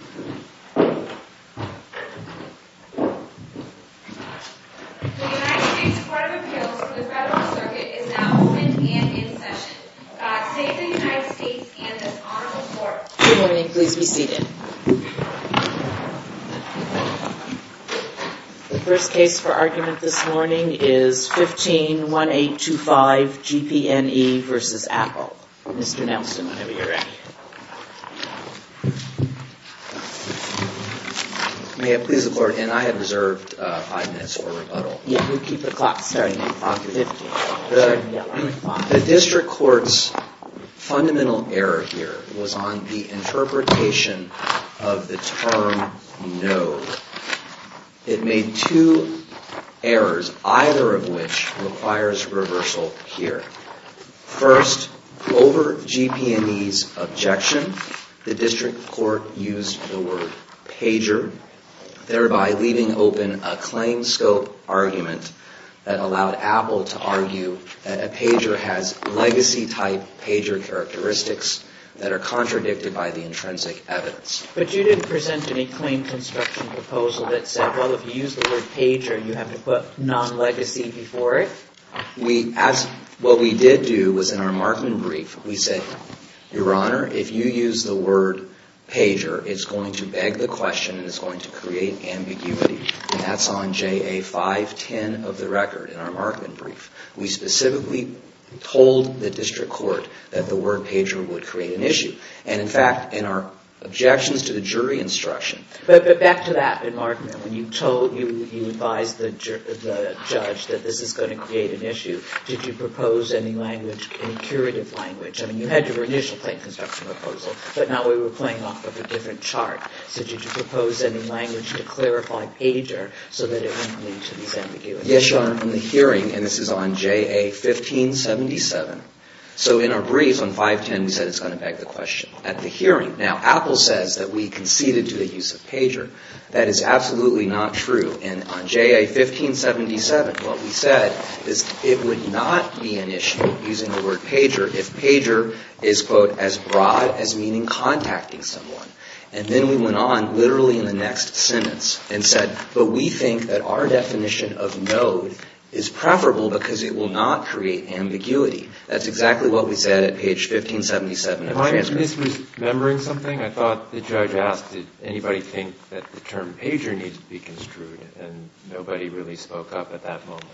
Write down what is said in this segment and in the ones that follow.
The first case for argument this morning is 15-1825 GPNE v. Apple. Mr. Nelson, whenever you're ready. May it please the Court, and I have reserved five minutes for rebuttal. Yeah, we'll keep the clock starting at 5.50. The District Court's fundamental error here was on the interpretation of the term no. It made two errors, either of which requires reversal here. First, over GPNE's objection, the District Court used the word pager, thereby leaving open a claim scope argument that allowed Apple to argue that a pager has legacy-type pager characteristics that are contradicted by the intrinsic evidence. But you didn't present any claim construction proposal that said, well, if you use the word pager, you have to put non-legacy before it? What we did do was in our Markman brief, we said, Your Honor, if you use the word pager, it's going to beg the question and it's going to create ambiguity. And that's on JA 510 of the record in our Markman brief. We specifically told the District Court that the word pager would create an issue. And in fact, in our objections to the jury instruction... Did you propose any language, any curative language? I mean, you had your initial claim construction proposal, but now we were playing off of a different chart. So did you propose any language to clarify pager so that it wouldn't lead to these ambiguities? Yes, Your Honor. In the hearing, and this is on JA 1577, so in our briefs on 510, we said it's going to beg the question. At the hearing, now, Apple says that we conceded to the use of pager. That is absolutely not true. And on JA 1577, what we said is it would not be an issue using the word pager if pager is, quote, as broad as meaning contacting someone. And then we went on literally in the next sentence and said, but we think that our definition of node is preferable because it will not create ambiguity. That's exactly what we said at page 1577 of the transcript. Am I misremembering something? I thought the judge asked did anybody think that the term pager needs to be construed, and nobody really spoke up at that moment.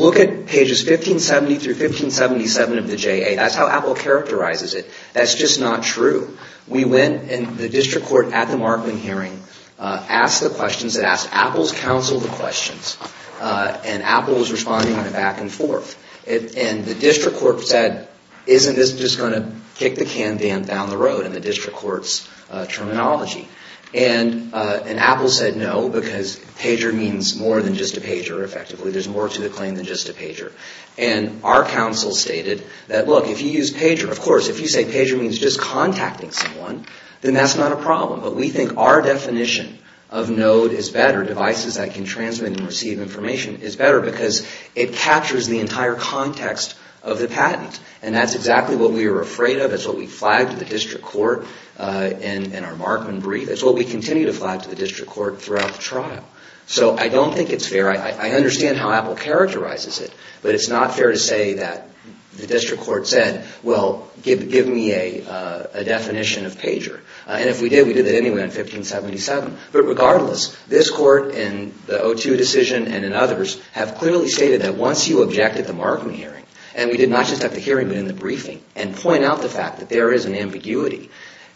Look at pages 1570 through 1577 of the JA. That's how Apple characterizes it. That's just not true. We went, and the district court at the Markman hearing asked the questions. It asked Apple's counsel the questions, and Apple was responding on a back and forth. And the district court said, isn't this just going to kick the can down the road in the district court's terminology? And Apple said no because pager means more than just a pager, effectively. There's more to the claim than just a pager. And our counsel stated that, look, if you use pager, of course, if you say pager means just contacting someone, then that's not a problem. But we think our definition of node is better, devices that can transmit and receive information, is better because it captures the entire context of the patent. And that's exactly what we were afraid of. That's what we flagged to the district court in our Markman brief. That's what we continue to flag to the district court throughout the trial. So I don't think it's fair. I understand how Apple characterizes it, but it's not fair to say that the district court said, well, give me a definition of pager. And if we did, we did it anyway in 1577. But regardless, this court and the O2 decision and in others have clearly stated that once you object at the Markman hearing, and we did not just have the hearing but in the briefing, and point out the fact that there is an ambiguity,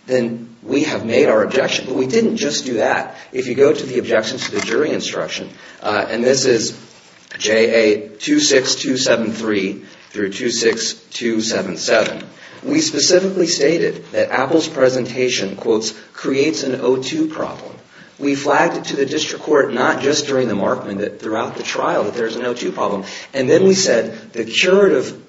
then we have made our objection. But we didn't just do that. If you go to the objections to the jury instruction, and this is JA 26273 through 26277, we specifically stated that Apple's presentation, quotes, creates an O2 problem. We flagged it to the district court not just during the Markman but throughout the trial that there's an O2 problem. And then we said the curative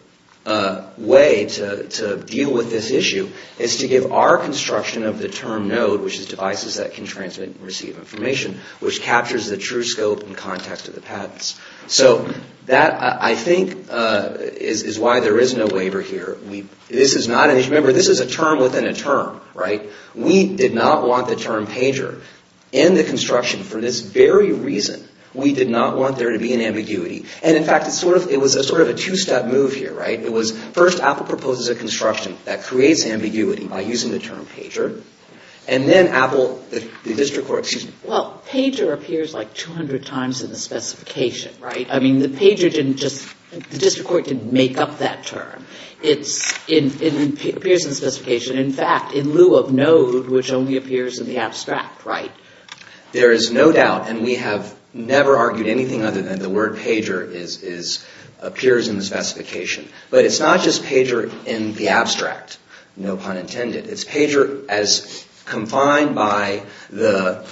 way to deal with this issue is to give our construction of the term node, which is devices that can transmit and receive information, which captures the true scope and context of the patents. So that, I think, is why there is no waiver here. This is not an issue. Remember, this is a term within a term, right? We did not want the term pager in the construction for this very reason. We did not want there to be an ambiguity. And, in fact, it was sort of a two-step move here, right? It was first Apple proposes a construction that creates ambiguity by using the term pager. And then Apple, the district court, excuse me. Well, pager appears like 200 times in the specification, right? I mean, the pager didn't just, the district court didn't make up that term. It appears in the specification. In fact, in lieu of node, which only appears in the abstract, right? There is no doubt, and we have never argued anything other than the word pager appears in the specification. But it's not just pager in the abstract, no pun intended. It's pager as combined by the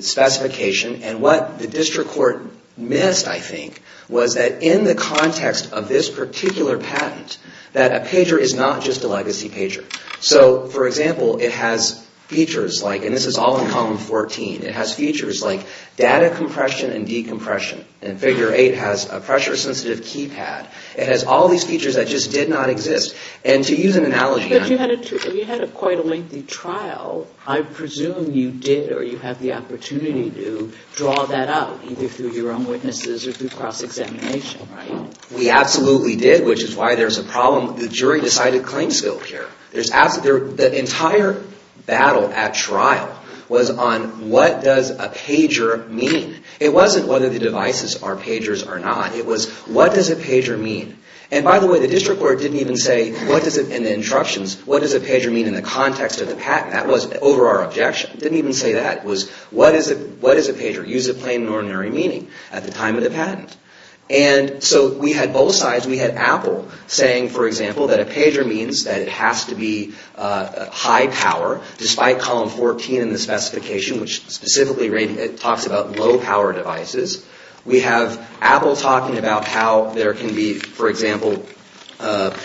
specification. And what the district court missed, I think, was that in the context of this particular patent, that a pager is not just a legacy pager. So, for example, it has features like, and this is all in Column 14, it has features like data compression and decompression. And Figure 8 has a pressure-sensitive keypad. It has all these features that just did not exist. And to use an analogy. But you had quite a lengthy trial. I presume you did or you had the opportunity to draw that out, either through your own witnesses or through cross-examination, right? We absolutely did, which is why there's a problem. The jury decided claims failed here. The entire battle at trial was on what does a pager mean? It wasn't whether the devices are pagers or not. It was what does a pager mean? And by the way, the district court didn't even say, in the instructions, what does a pager mean in the context of the patent. That was over our objection. It didn't even say that. It was what is a pager? It used a plain and ordinary meaning at the time of the patent. And so we had both sides. We had Apple saying, for example, that a pager means that it has to be high power, despite column 14 in the specification, which specifically talks about low-power devices. We have Apple talking about how there can be, for example, the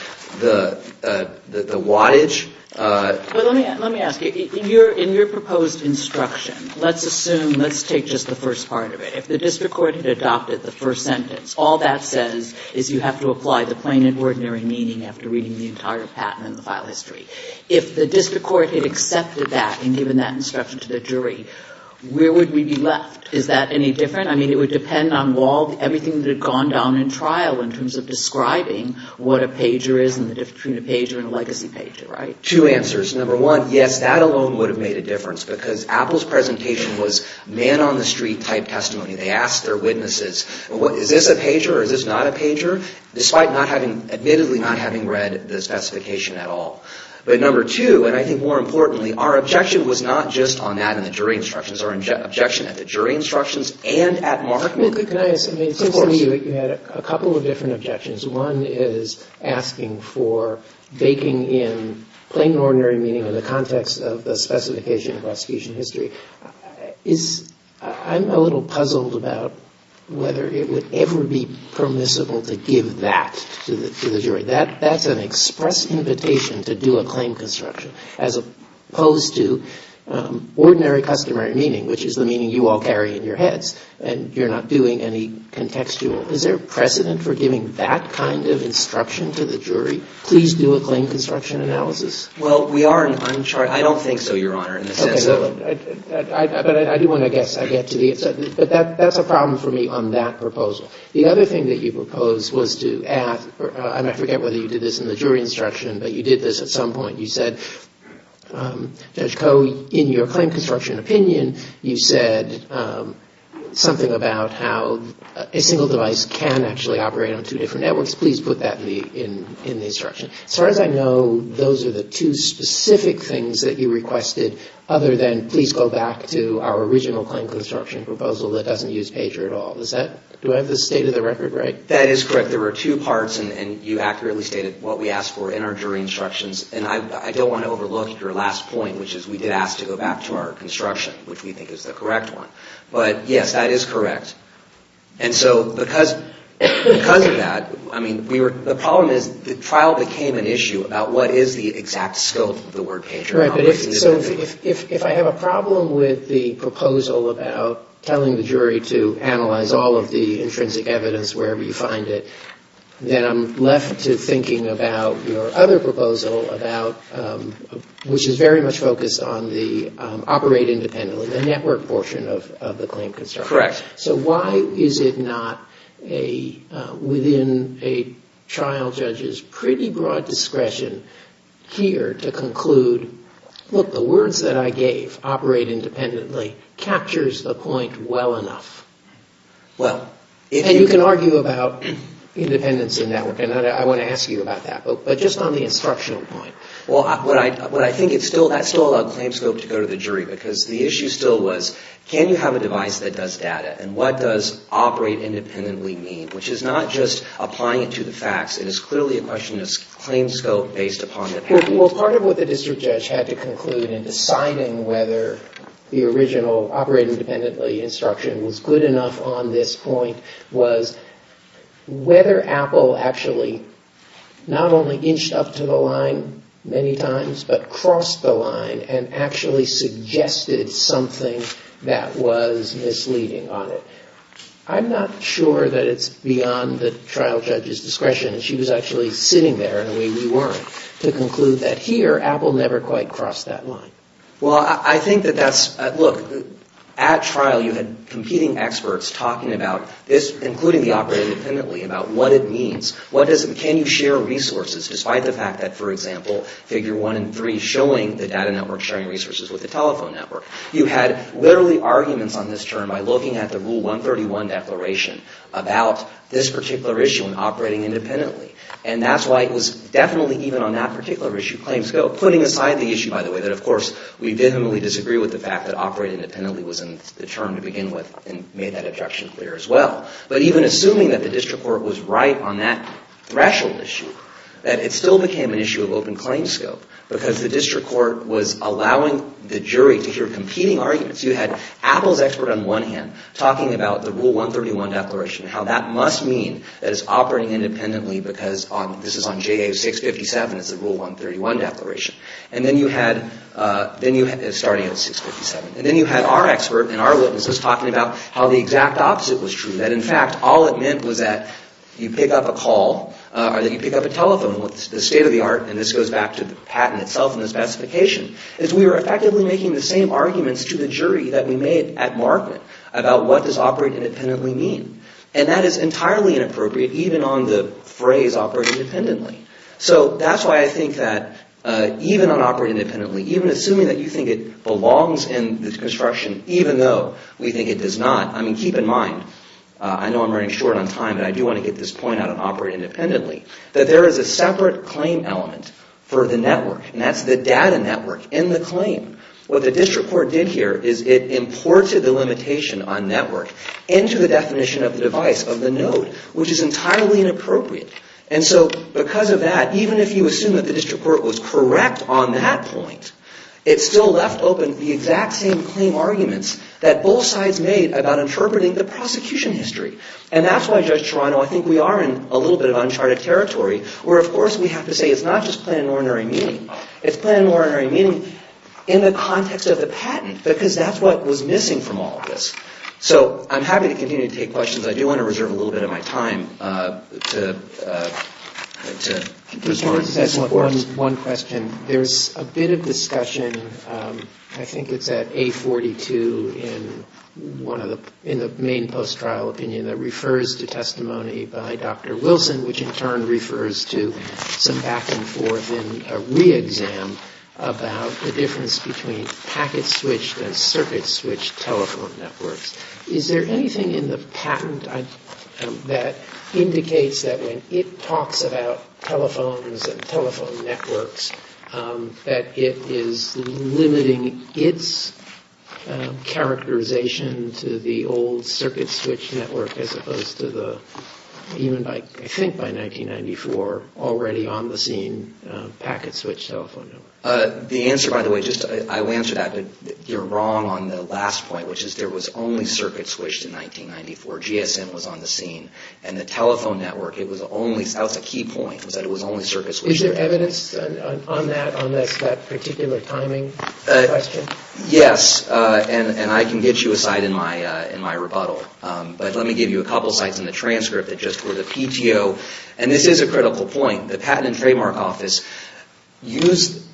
wattage. Let me ask you. In your proposed instruction, let's assume, let's take just the first part of it. If the district court had adopted the first sentence, all that says is you have to apply the plain and ordinary meaning after reading the entire patent and the file history. If the district court had accepted that and given that instruction to the jury, where would we be left? Is that any different? I mean, it would depend on everything that had gone down in trial in terms of describing what a pager is and the difference between a pager and a legacy pager, right? Two answers. Number one, yes, that alone would have made a difference, because Apple's presentation was man-on-the-street-type testimony. They asked their witnesses, is this a pager or is this not a pager, despite admittedly not having read the specification at all. But number two, and I think more importantly, our objection was not just on that in the jury instructions. Our objection at the jury instructions and at Markman. Can I ask, it seems to me that you had a couple of different objections. One is asking for baking in plain and ordinary meaning in the context of the specification of prosecution history. I'm a little puzzled about whether it would ever be permissible to give that to the jury. That's an express invitation to do a claim construction as opposed to ordinary customary meaning, which is the meaning you all carry in your heads and you're not doing any contextual. Is there precedent for giving that kind of instruction to the jury? Please do a claim construction analysis. Well, we are in uncharted. I don't think so, Your Honor, in the sense of. But I do want to guess. But that's a problem for me on that proposal. The other thing that you proposed was to ask, and I forget whether you did this in the jury instruction, but you did this at some point. You said, Judge Koh, in your claim construction opinion, you said something about how a single device can actually operate on two different networks. Please put that in the instruction. As far as I know, those are the two specific things that you requested other than, please go back to our original claim construction proposal that doesn't use pager at all. Do I have this state of the record right? That is correct. There were two parts, and you accurately stated what we asked for in our jury instructions. And I don't want to overlook your last point, which is we did ask to go back to our construction, which we think is the correct one. But, yes, that is correct. And so because of that, I mean, the problem is the trial became an issue about what is the exact scope of the word pager. So if I have a problem with the proposal about telling the jury to analyze all of the intrinsic evidence wherever you find it, then I'm left to thinking about your other proposal, which is very much focused on the operate independently, the network portion of the claim construction. Correct. So why is it not within a trial judge's pretty broad discretion here to conclude, look, the words that I gave, operate independently, captures the point well enough. And you can argue about independence and network, and I want to ask you about that. But just on the instructional point. Well, what I think it's still, that's still a claim scope to go to the jury, because the issue still was, can you have a device that does data, and what does operate independently mean? Which is not just applying it to the facts. It is clearly a question of claim scope based upon the patent. Well, part of what the district judge had to conclude in deciding whether the original operate independently instruction was good enough on this point was whether Apple actually not only inched up to the line many times, but crossed the line and actually suggested something that was misleading on it. I'm not sure that it's beyond the trial judge's discretion. She was actually sitting there, and we weren't, to conclude that here Apple never quite crossed that line. Well, I think that that's, look, at trial you had competing experts talking about this, including the operate independently, about what it means. What does, can you share resources, despite the fact that, for example, figure one and three showing the data network sharing resources with the telephone network. You had literally arguments on this term by looking at the rule 131 declaration about this particular issue in operating independently. And that's why it was definitely even on that particular issue, claim scope, but putting aside the issue, by the way, that, of course, we vehemently disagree with the fact that operate independently was in the term to begin with and made that objection clear as well. But even assuming that the district court was right on that threshold issue, that it still became an issue of open claim scope because the district court was allowing the jury to hear competing arguments. You had Apple's expert on one hand talking about the rule 131 declaration and how that must mean that it's operating independently because this is on JA657, it's the rule 131 declaration. And then you had, starting at 657, and then you had our expert and our witnesses talking about how the exact opposite was true. That, in fact, all it meant was that you pick up a call, or that you pick up a telephone with the state of the art, and this goes back to the patent itself and the specification, is we were effectively making the same arguments to the jury that we made at Markman about what does operate independently mean. And that is entirely inappropriate even on the phrase operate independently. So that's why I think that even on operate independently, even assuming that you think it belongs in the construction, even though we think it does not. I mean, keep in mind, I know I'm running short on time, but I do want to get this point out on operate independently, that there is a separate claim element for the network, and that's the data network in the claim. What the district court did here is it imported the limitation on network into the definition of the device of the node, which is entirely inappropriate. And so because of that, even if you assume that the district court was correct on that point, it still left open the exact same claim arguments that both sides made about interpreting the prosecution history. And that's why, Judge Toronto, I think we are in a little bit of uncharted territory, where, of course, we have to say it's not just plain and ordinary meaning. It's plain and ordinary meaning in the context of the patent, because that's what was missing from all of this. So I'm happy to continue to take questions. I do want to reserve a little bit of my time to respond. Just one question. There's a bit of discussion, I think it's at 842 in the main post-trial opinion, that refers to testimony by Dr. Wilson, which in turn refers to some back and forth in a re-exam about the difference between packet-switched and circuit-switched telephone networks. Is there anything in the patent that indicates that when it talks about telephones and telephone networks, that it is limiting its characterization to the old circuit-switched network as opposed to the, even I think by 1994, already on the scene packet-switched telephone network? The answer, by the way, I will answer that. You're wrong on the last point, which is there was only circuit-switched in 1994. GSM was on the scene. And the telephone network, that was a key point, was that it was only circuit-switched. Is there evidence on that, on that particular timing question? Yes. And I can get you a site in my rebuttal. But let me give you a couple sites in the transcript that just were the PTO. And this is a critical point. The Patent and Trademark Office used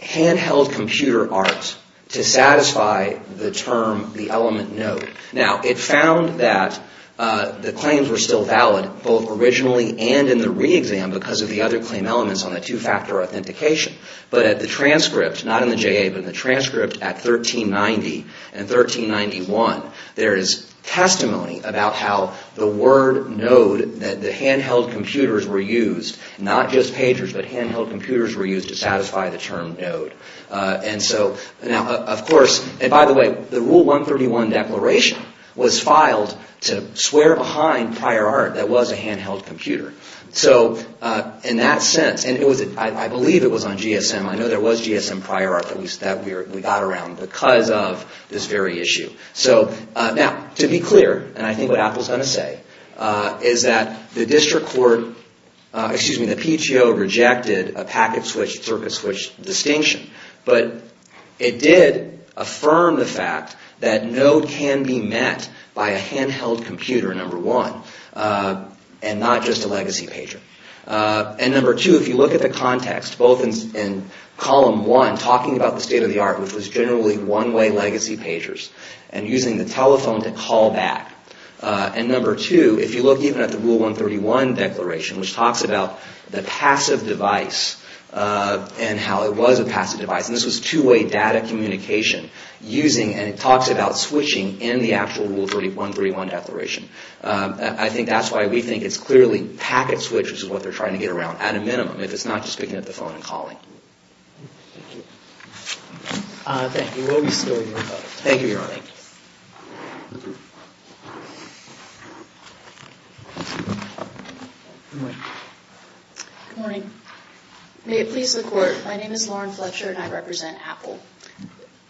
handheld computer art to satisfy the term, the element, node. Now, it found that the claims were still valid both originally and in the re-exam because of the other claim elements on the two-factor authentication. But at the transcript, not in the JA, but in the transcript at 1390 and 1391, there is testimony about how the word, node, that the handheld computers were used, not just pagers, but handheld computers were used to satisfy the term, node. And so, now, of course, and by the way, the Rule 131 declaration was filed to swear behind prior art that was a handheld computer. So, in that sense, and I believe it was on GSM. I know there was GSM prior art that we got around because of this very issue. So, now, to be clear, and I think what Apple is going to say, is that the district court, excuse me, the PTO rejected a packet switch, circuit switch distinction. But it did affirm the fact that node can be met by a handheld computer, number one, and not just a legacy pager. And number two, if you look at the context, both in column one, talking about the state of the art, which was generally one-way legacy pagers, and using the telephone to call back. And number two, if you look even at the Rule 131 declaration, which talks about the passive device and how it was a passive device, and this was two-way data communication using, and it talks about switching in the actual Rule 131 declaration. I think that's why we think it's clearly packet switch, which is what they're trying to get around at a minimum, if it's not just picking up the phone and calling. Thank you. Thank you. We'll be still hearing about it. Thank you, Your Honor. Thank you. Good morning. Good morning. May it please the Court, my name is Lauren Fletcher and I represent Apple.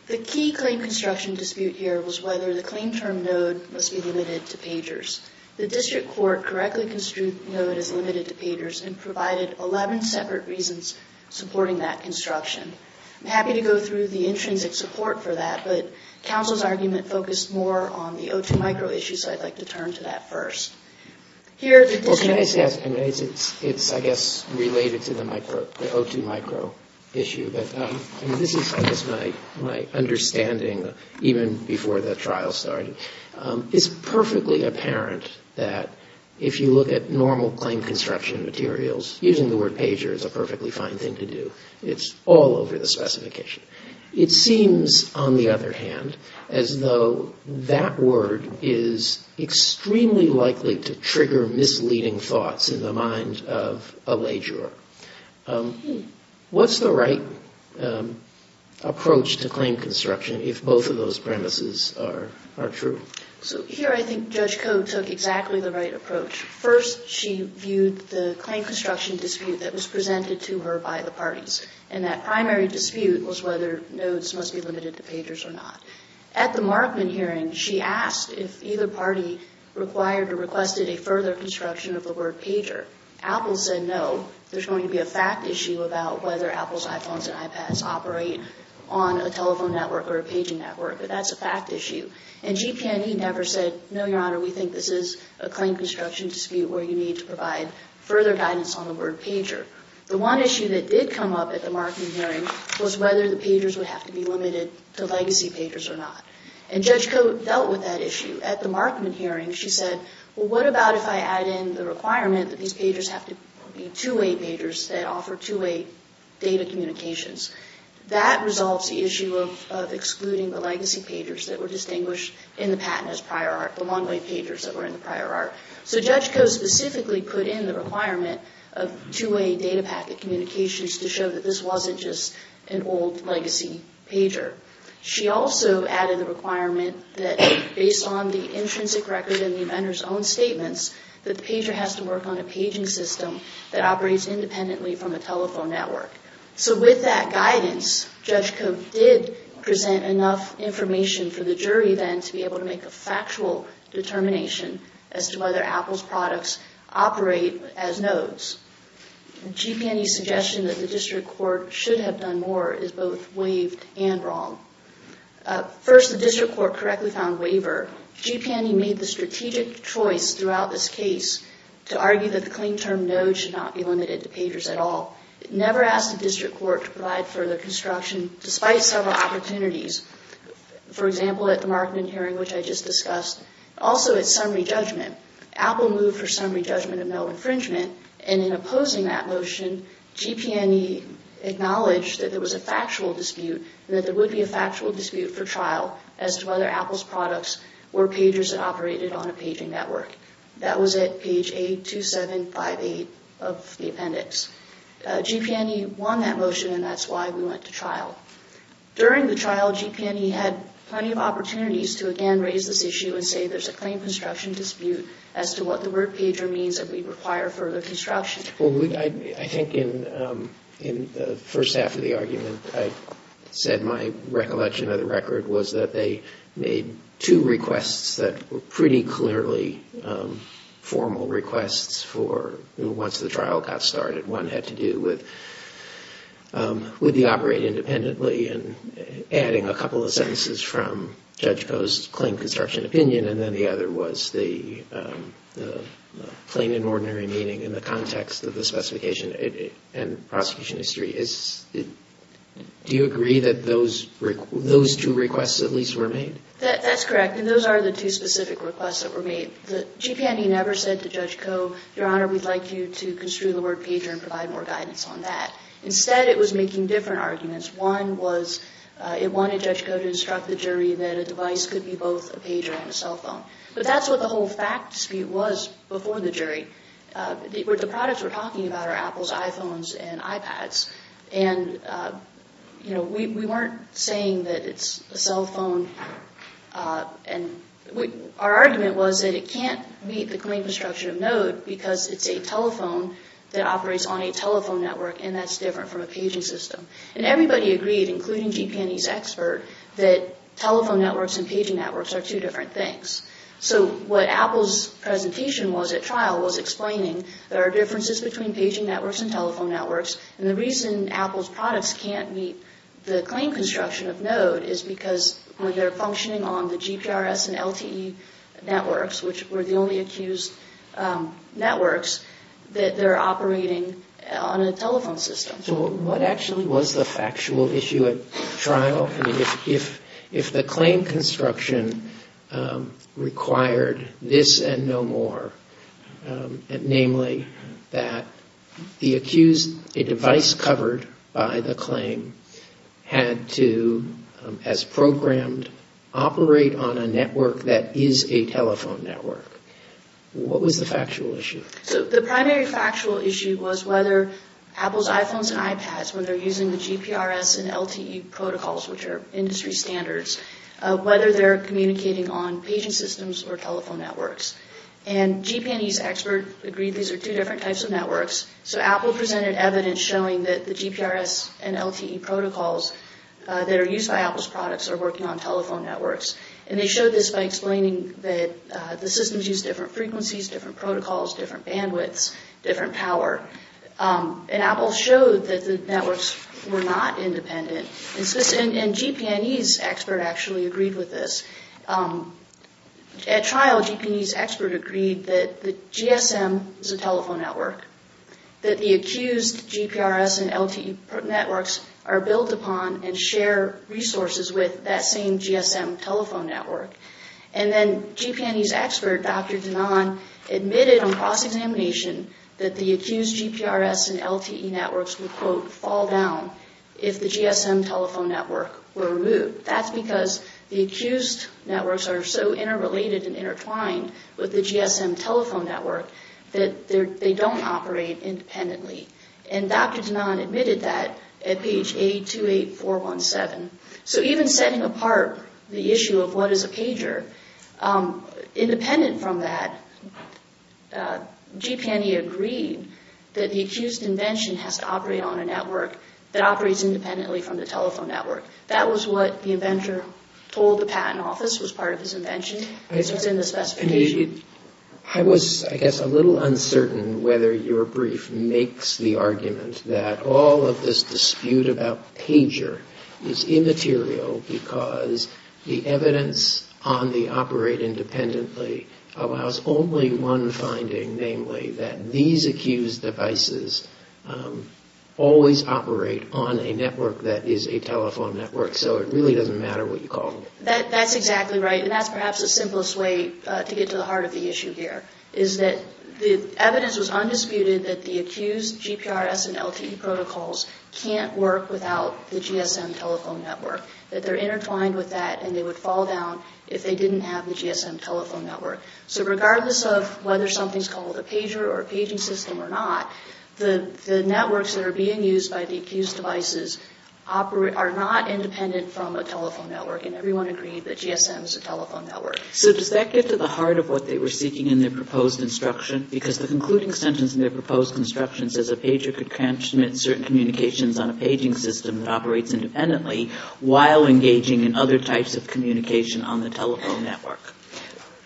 The key claim construction dispute here was whether the claim term node must be limited to pagers. The district court correctly construed the node as limited to pagers and provided 11 separate reasons supporting that construction. I'm happy to go through the intrinsic support for that, but counsel's argument focused more on the O2 micro issue, so I'd like to turn to that first. Well, can I say it's, I guess, related to the O2 micro issue. This is, I guess, my understanding even before the trial started. It's perfectly apparent that if you look at normal claim construction materials, using the word pager is a perfectly fine thing to do. It's all over the specification. It seems, on the other hand, as though that word is extremely likely to trigger misleading thoughts in the mind of a ledger. What's the right approach to claim construction if both of those premises are true? So, here I think Judge Koh took exactly the right approach. First, she viewed the claim construction dispute that was presented to her by the parties, and that primary dispute was whether nodes must be limited to pagers or not. At the Markman hearing, she asked if either party required or requested a further construction of the word pager. Apple said no. There's going to be a fact issue about whether Apple's iPhones and iPads operate on a telephone network or a paging network, but that's a fact issue. And GP&E never said, no, Your Honor, we think this is a claim construction dispute where you need to provide further guidance on the word pager. The one issue that did come up at the Markman hearing was whether the pagers would have to be limited to legacy pagers or not. And Judge Koh dealt with that issue. At the Markman hearing, she said, well, what about if I add in the requirement that these pagers have to be two-way pagers that offer two-way data communications? That resolves the issue of excluding the legacy pagers that were distinguished in the patent as prior art, the long-wave pagers that were in the prior art. So Judge Koh specifically put in the requirement of two-way data packet communications to show that this wasn't just an old legacy pager. She also added the requirement that, based on the intrinsic record in the inventor's own statements, that the pager has to work on a paging system that operates independently from a telephone network. So with that guidance, Judge Koh did present enough information for the jury then to be able to make a factual determination as to whether Apple's products operate as nodes. GP&E's suggestion that the district court should have done more is both waived and wrong. First, the district court correctly found waiver. GP&E made the strategic choice throughout this case to argue that the clean term node should not be limited to pagers at all. It never asked the district court to provide further construction, despite several opportunities. For example, at the Markman hearing, which I just discussed. Also, at summary judgment, Apple moved for summary judgment of no infringement and in opposing that motion, GP&E acknowledged that there was a factual dispute and that there would be a factual dispute for trial as to whether Apple's products were pagers that operated on a paging network. That was at page 82758 of the appendix. GP&E won that motion and that's why we went to trial. During the trial, GP&E had plenty of opportunities to again raise this issue and say there's a claim construction dispute as to what the word pager means and we require further construction. Well, I think in the first half of the argument, I said my recollection of the record was that they made two requests that were pretty clearly formal requests for once the trial got started. One had to do with the operate independently and adding a couple of sentences from Judge Koh's claim construction opinion and then the other was the plain and ordinary meaning in the context of the specification and prosecution history. Do you agree that those two requests at least were made? That's correct and those are the two specific requests that were made. GP&E never said to Judge Koh, Your Honor, we'd like you to construe the word pager and provide more guidance on that. Instead, it was making different arguments. One was it wanted Judge Koh to instruct the jury that a device could be both a pager and a cell phone. But that's what the whole fact dispute was before the jury. The products we're talking about are Apple's iPhones and iPads and we weren't saying that it's a cell phone. Our argument was that it can't meet the claim construction of Node because it's a telephone that operates on a telephone network and that's different from a paging system. And everybody agreed, including GP&E's expert, that telephone networks and paging networks are two different things. So what Apple's presentation was at trial was explaining there are differences between paging networks and telephone networks and the reason Apple's products can't meet the claim construction of Node is because when they're functioning on the GPRS and LTE networks, which were the only accused networks, that they're operating on a telephone system. So what actually was the factual issue at trial? If the claim construction required this and no more, namely that a device covered by the claim had to, as programmed, operate on a network that is a telephone network, what was the factual issue? So the primary factual issue was whether Apple's iPhones and iPads, when they're using the GPRS and LTE protocols, which are industry standards, whether they're communicating on paging systems or telephone networks. And GP&E's expert agreed these are two different types of networks. So Apple presented evidence showing that the GPRS and LTE protocols that are used by Apple's products are working on telephone networks. And they showed this by explaining that the systems use different frequencies, different protocols, different bandwidths, different power. And Apple showed that the networks were not independent. And GP&E's expert actually agreed with this. At trial, GP&E's expert agreed that the GSM is a telephone network, that the accused GPRS and LTE networks are built upon and share resources with that same GSM telephone network. And then GP&E's expert, Dr. Danan, admitted on cross-examination that the accused GPRS and LTE networks would, quote, fall down if the GSM telephone network were removed. That's because the accused networks are so interrelated and intertwined with the GSM telephone network that they don't operate independently. And Dr. Danan admitted that at page 828417. So even setting apart the issue of what is a pager, independent from that, GP&E agreed that the accused invention has to operate on a network that operates independently from the telephone network. That was what the inventor told the patent office was part of his invention. I was, I guess, a little uncertain whether your brief makes the argument that all of this dispute about pager is immaterial because the evidence on the operate independently allows only one finding, namely that these accused devices always operate on a network that is a telephone network. So it really doesn't matter what you call it. That's exactly right, and that's perhaps the simplest way to get to the heart of the issue here, is that the evidence was undisputed that the accused GPRS and LTE protocols can't work without the GSM telephone network, that they're intertwined with that and they would fall down if they didn't have the GSM telephone network. So regardless of whether something's called a pager or a paging system or not, the networks that are being used by the accused devices are not independent from a telephone network, and everyone agreed that GSM is a telephone network. So does that get to the heart of what they were seeking in their proposed instruction? Because the concluding sentence in their proposed instruction says a pager could transmit certain communications on a paging system that operates independently while engaging in other types of communication on the telephone network.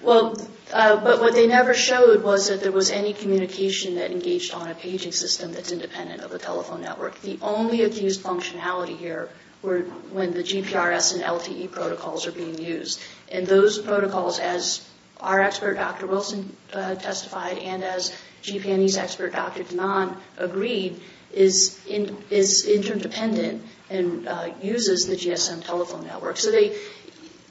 Well, but what they never showed was that there was any communication that engaged on a paging system that's independent of the telephone network. The only accused functionality here were when the GPRS and LTE protocols are being used, and those protocols, as our expert, Dr. Wilson, testified, and as GP&E's expert, Dr. Donan, agreed, is interdependent and uses the GSM telephone network. So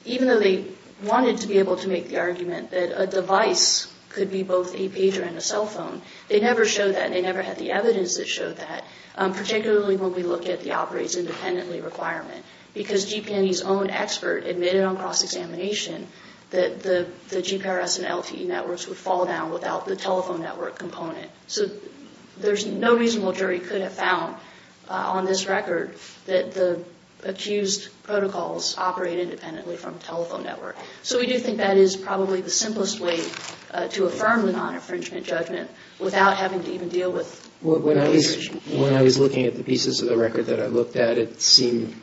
even though they wanted to be able to make the argument that a device could be both a pager and a cell phone, they never showed that, and they never had the evidence that showed that, particularly when we look at the operates independently requirement, because GP&E's own expert admitted on cross-examination that the GPRS and LTE networks would fall down without the telephone network component. So there's no reason why a jury could have found on this record that the accused protocols operate independently from a telephone network. So we do think that is probably the simplest way to affirm the non-infringement judgment without having to even deal with the infringement. When I was looking at the pieces of the record that I looked at, it seemed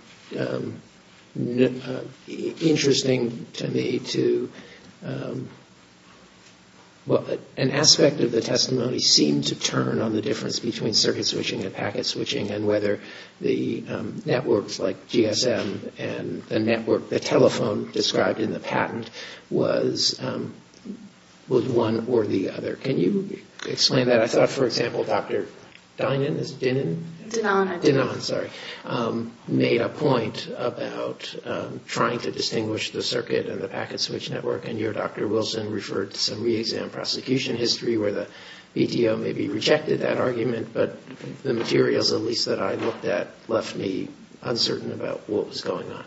interesting to me to, well, an aspect of the testimony seemed to turn on the difference between circuit switching and packet switching and whether the networks like GSM and the telephone described in the patent was one or the other. Can you explain that? I thought, for example, Dr. Donan made a point about trying to distinguish the circuit and the packet switch network, and your Dr. Wilson referred to some re-exam prosecution history where the BTO maybe rejected that argument, but the materials at least that I looked at left me uncertain about what was going on.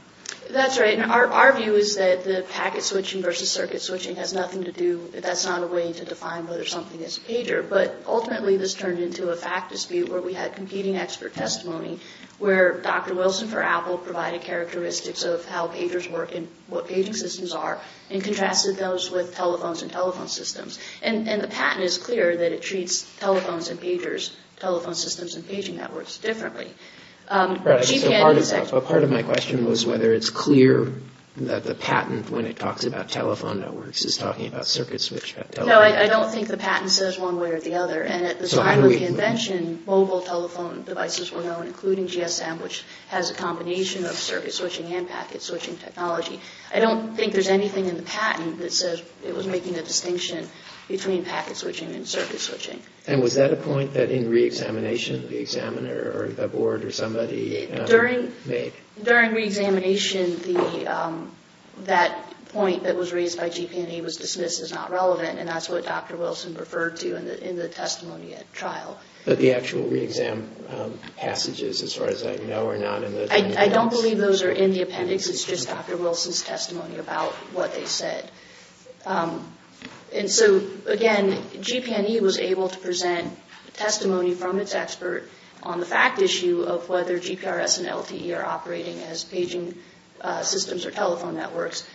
That's right. Our view is that the packet switching versus circuit switching has nothing to do, that that's not a way to define whether something is a pager. But ultimately this turned into a fact dispute where we had competing expert testimony where Dr. Wilson for Apple provided characteristics of how pagers work and what paging systems are and contrasted those with telephones and telephone systems. And the patent is clear that it treats telephones and pagers, telephone systems and paging networks, differently. Part of my question was whether it's clear that the patent, when it talks about telephone networks, is talking about circuit switching. No, I don't think the patent says one way or the other. And at the time of the invention, mobile telephone devices were known, including GSM, which has a combination of circuit switching and packet switching technology. I don't think there's anything in the patent that says it was making a distinction between packet switching and circuit switching. And was that a point that in reexamination the examiner or the board or somebody made? During reexamination that point that was raised by GP&A was dismissed as not relevant, and that's what Dr. Wilson referred to in the testimony at trial. But the actual reexam passages, as far as I know, are not in the appendix? I don't believe those are in the appendix. It's just Dr. Wilson's testimony about what they said. And so, again, GP&E was able to present testimony from its expert on the fact issue of whether GPRS and LTE are operating as paging systems or telephone networks.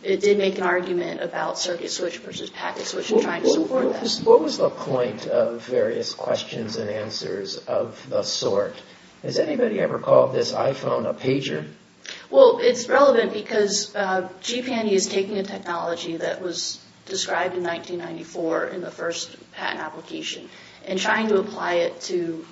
It did make an argument about circuit switch versus packet switch and trying to support that. What was the point of various questions and answers of the sort? Has anybody ever called this iPhone a pager? Well, it's relevant because GP&E is taking a technology that was described in 1994 in the first patent application and trying to apply it to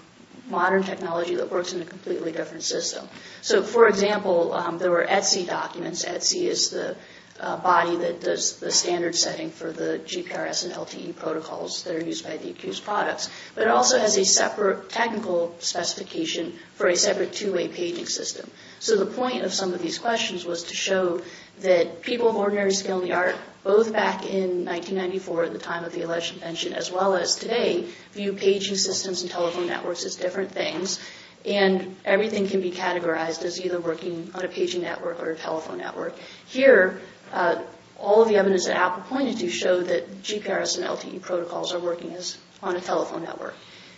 modern technology that works in a completely different system. So, for example, there were ETSI documents. ETSI is the body that does the standard setting for the GPRS and LTE protocols that are used by DeepQ's products. But it also has a separate technical specification for a separate two-way paging system. So the point of some of these questions was to show that people of ordinary skill in the art, both back in 1994 at the time of the election pension as well as today, view paging systems and telephone networks as different things, and everything can be categorized as either working on a paging network or a telephone network. Here, all of the evidence that Apple pointed to show that GPRS and LTE protocols are working on a telephone network.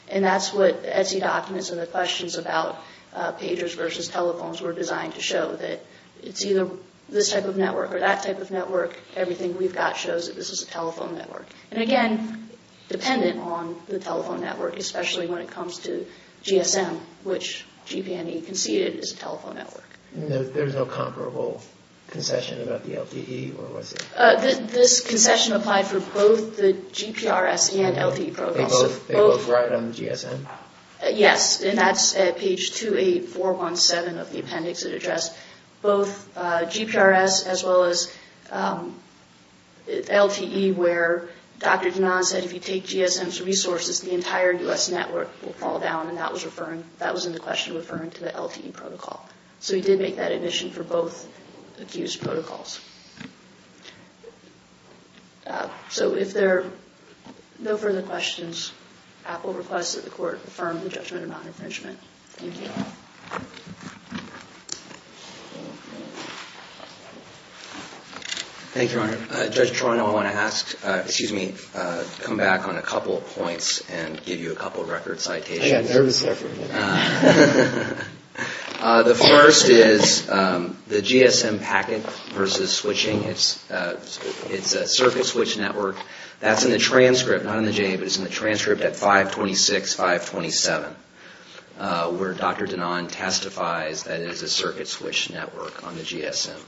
And that's what ETSI documents and the questions about pagers versus telephones were designed to show, that it's either this type of network or that type of network. Everything we've got shows that this is a telephone network. And again, dependent on the telephone network, especially when it comes to GSM, which GP&E conceded is a telephone network. There's no comparable concession about the LTE, or was there? This concession applied for both the GPRS and LTE protocols. They both write on the GSM? Yes, and that's at page 28417 of the appendix. It addressed both GPRS as well as LTE, where Dr. Dhanan said, if you take GSM's resources, the entire U.S. network will fall down, and that was in the question referring to the LTE protocol. So he did make that admission for both accused protocols. So if there are no further questions, I will request that the Court affirm the judgment on non-infringement. Thank you. Thank you, Your Honor. Judge Toronto, I want to ask, excuse me, come back on a couple of points and give you a couple of record citations. I got nervous there for a minute. The first is the GSM packet versus switching. It's a circuit switch network. That's in the transcript, not in the J.A., but it's in the transcript at 526, 527, where Dr. Dhanan testifies that it is a circuit switch network on the GSM.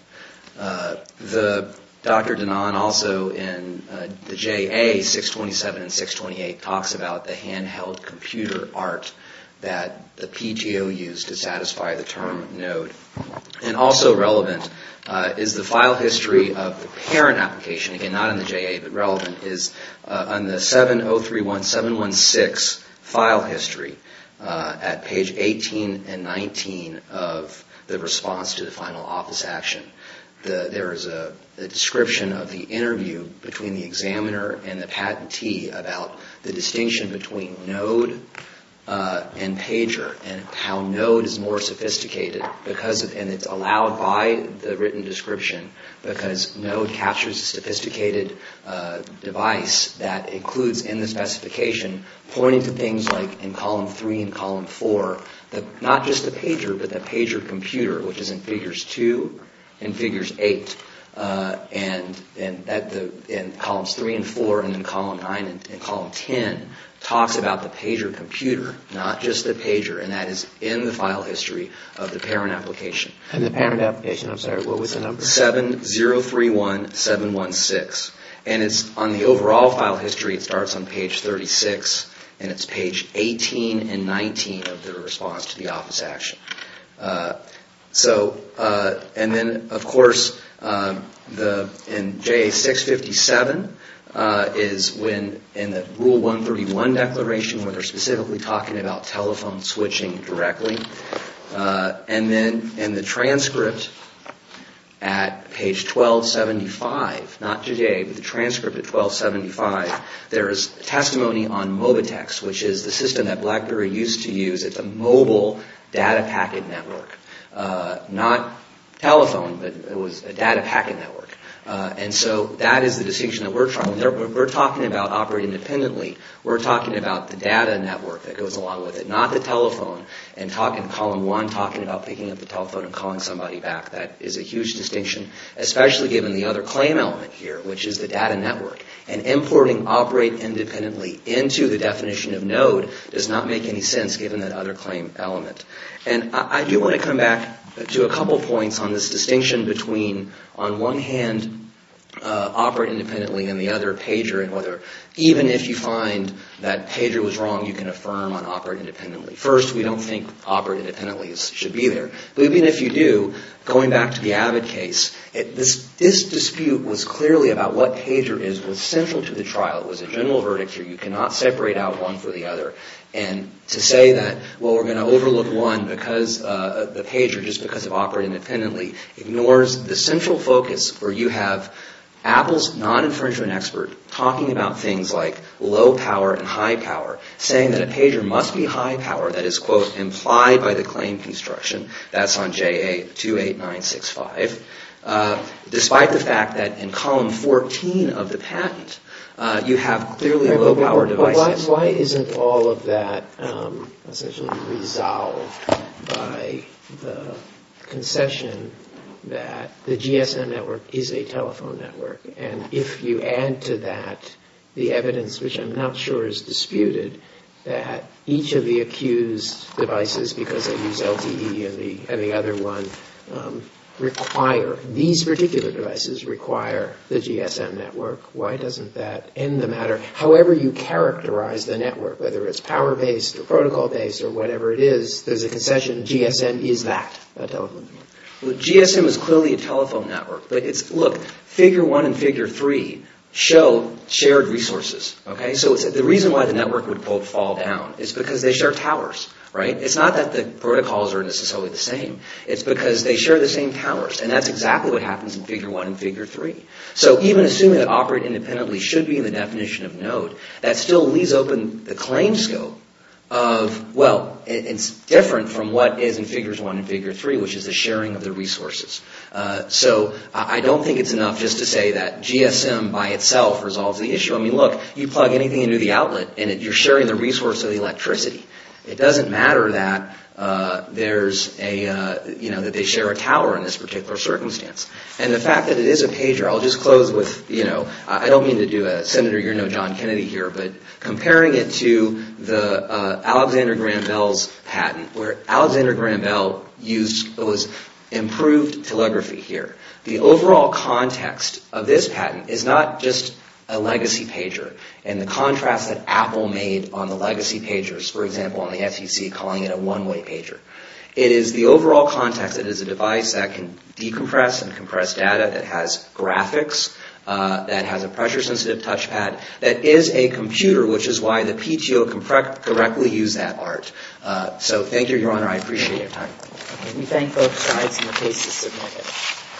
Dr. Dhanan also in the J.A., 627 and 628, talks about the handheld computer art that the PTO used to satisfy the term node. And also relevant is the file history of the parent application, again, not in the J.A., but relevant is on the 7031716 file history at page 18 and 19 of the response to the final office action. There is a description of the interview between the examiner and the patentee about the distinction between node and pager, and how node is more sophisticated, and it's allowed by the written description because node captures a sophisticated device that includes in the specification, pointing to things like in column 3 and column 4, not just the pager, but the pager computer, which is in figures 2 and figures 8, and in columns 3 and 4, and in column 9 and column 10, talks about the pager computer, not just the pager, and that is in the file history of the parent application. And the parent application, I'm sorry, what was the number? 7031716. And it's on the overall file history, it starts on page 36, and it's page 18 and 19 of the response to the office action. So, and then of course, in JA 657, is when in the rule 131 declaration, where they're specifically talking about telephone switching directly, and then in the transcript at page 1275, not today, but the transcript at 1275, there is testimony on Mobitex, which is the system that BlackBerry used to use. It's a mobile data packet network. Not telephone, but it was a data packet network. And so that is the distinction that we're trying. We're talking about operating independently, we're talking about the data network that goes along with it, not the telephone, and talking, column 1, talking about picking up the telephone and calling somebody back. That is a huge distinction, especially given the other claim element here, which is the data network. And importing operate independently into the definition of node does not make any sense, given that other claim element. And I do want to come back to a couple points on this distinction between, on one hand, operate independently, and the other, pager, and whether, even if you find that pager was wrong, you can affirm on operate independently. First, we don't think operate independently should be there. Even if you do, going back to the Abbott case, this dispute was clearly about what pager is was central to the trial. It was a general verdict here. You cannot separate out one for the other. And to say that, well, we're going to overlook one because the pager, just because of operate independently, ignores the central focus where you have Apple's non-infringement expert talking about things like low power and high power, saying that a pager must be high power, that is, quote, implied by the claim construction. That's on JA 28965. Despite the fact that in column 14 of the patent, you have clearly low power devices. Why isn't all of that essentially resolved by the concession that the GSM network is a telephone network? And if you add to that the evidence, which I'm not sure is disputed, that each of the accused devices, because they use LTE and the other one, require, these particular devices require the GSM network, why doesn't that end the matter? However you characterize the network, whether it's power-based or protocol-based or whatever it is, there's a concession, GSM is that, a telephone network. Well, GSM is clearly a telephone network. Look, figure one and figure three show shared resources. So the reason why the network would, quote, fall down is because they share towers, right? It's not that the protocols are necessarily the same. It's because they share the same towers, and that's exactly what happens in figure one and figure three. So even assuming that operate independently should be in the definition of node, that still leaves open the claim scope of, well, it's different from what is in figures one and figure three, which is the sharing of the resources. So I don't think it's enough just to say that GSM by itself resolves the issue. I mean, look, you plug anything into the outlet, and you're sharing the resource of the electricity. It doesn't matter that there's a, you know, that they share a tower in this particular circumstance. And the fact that it is a pager, I'll just close with, you know, I don't mean to do a Senator, you're no John Kennedy here, but comparing it to the Alexander Graham Bell's patent, where Alexander Graham Bell used, it was improved telegraphy here. The overall context of this patent is not just a legacy pager, and the contrast that Apple made on the legacy pagers, for example, on the FCC calling it a one-way pager. It is the overall context that it is a device that can decompress and compress data, that has graphics, that has a pressure-sensitive touchpad, that is a computer, which is why the PTO can directly use that art. So thank you, Your Honor, I appreciate your time. Let me thank both sides, and the case is submitted.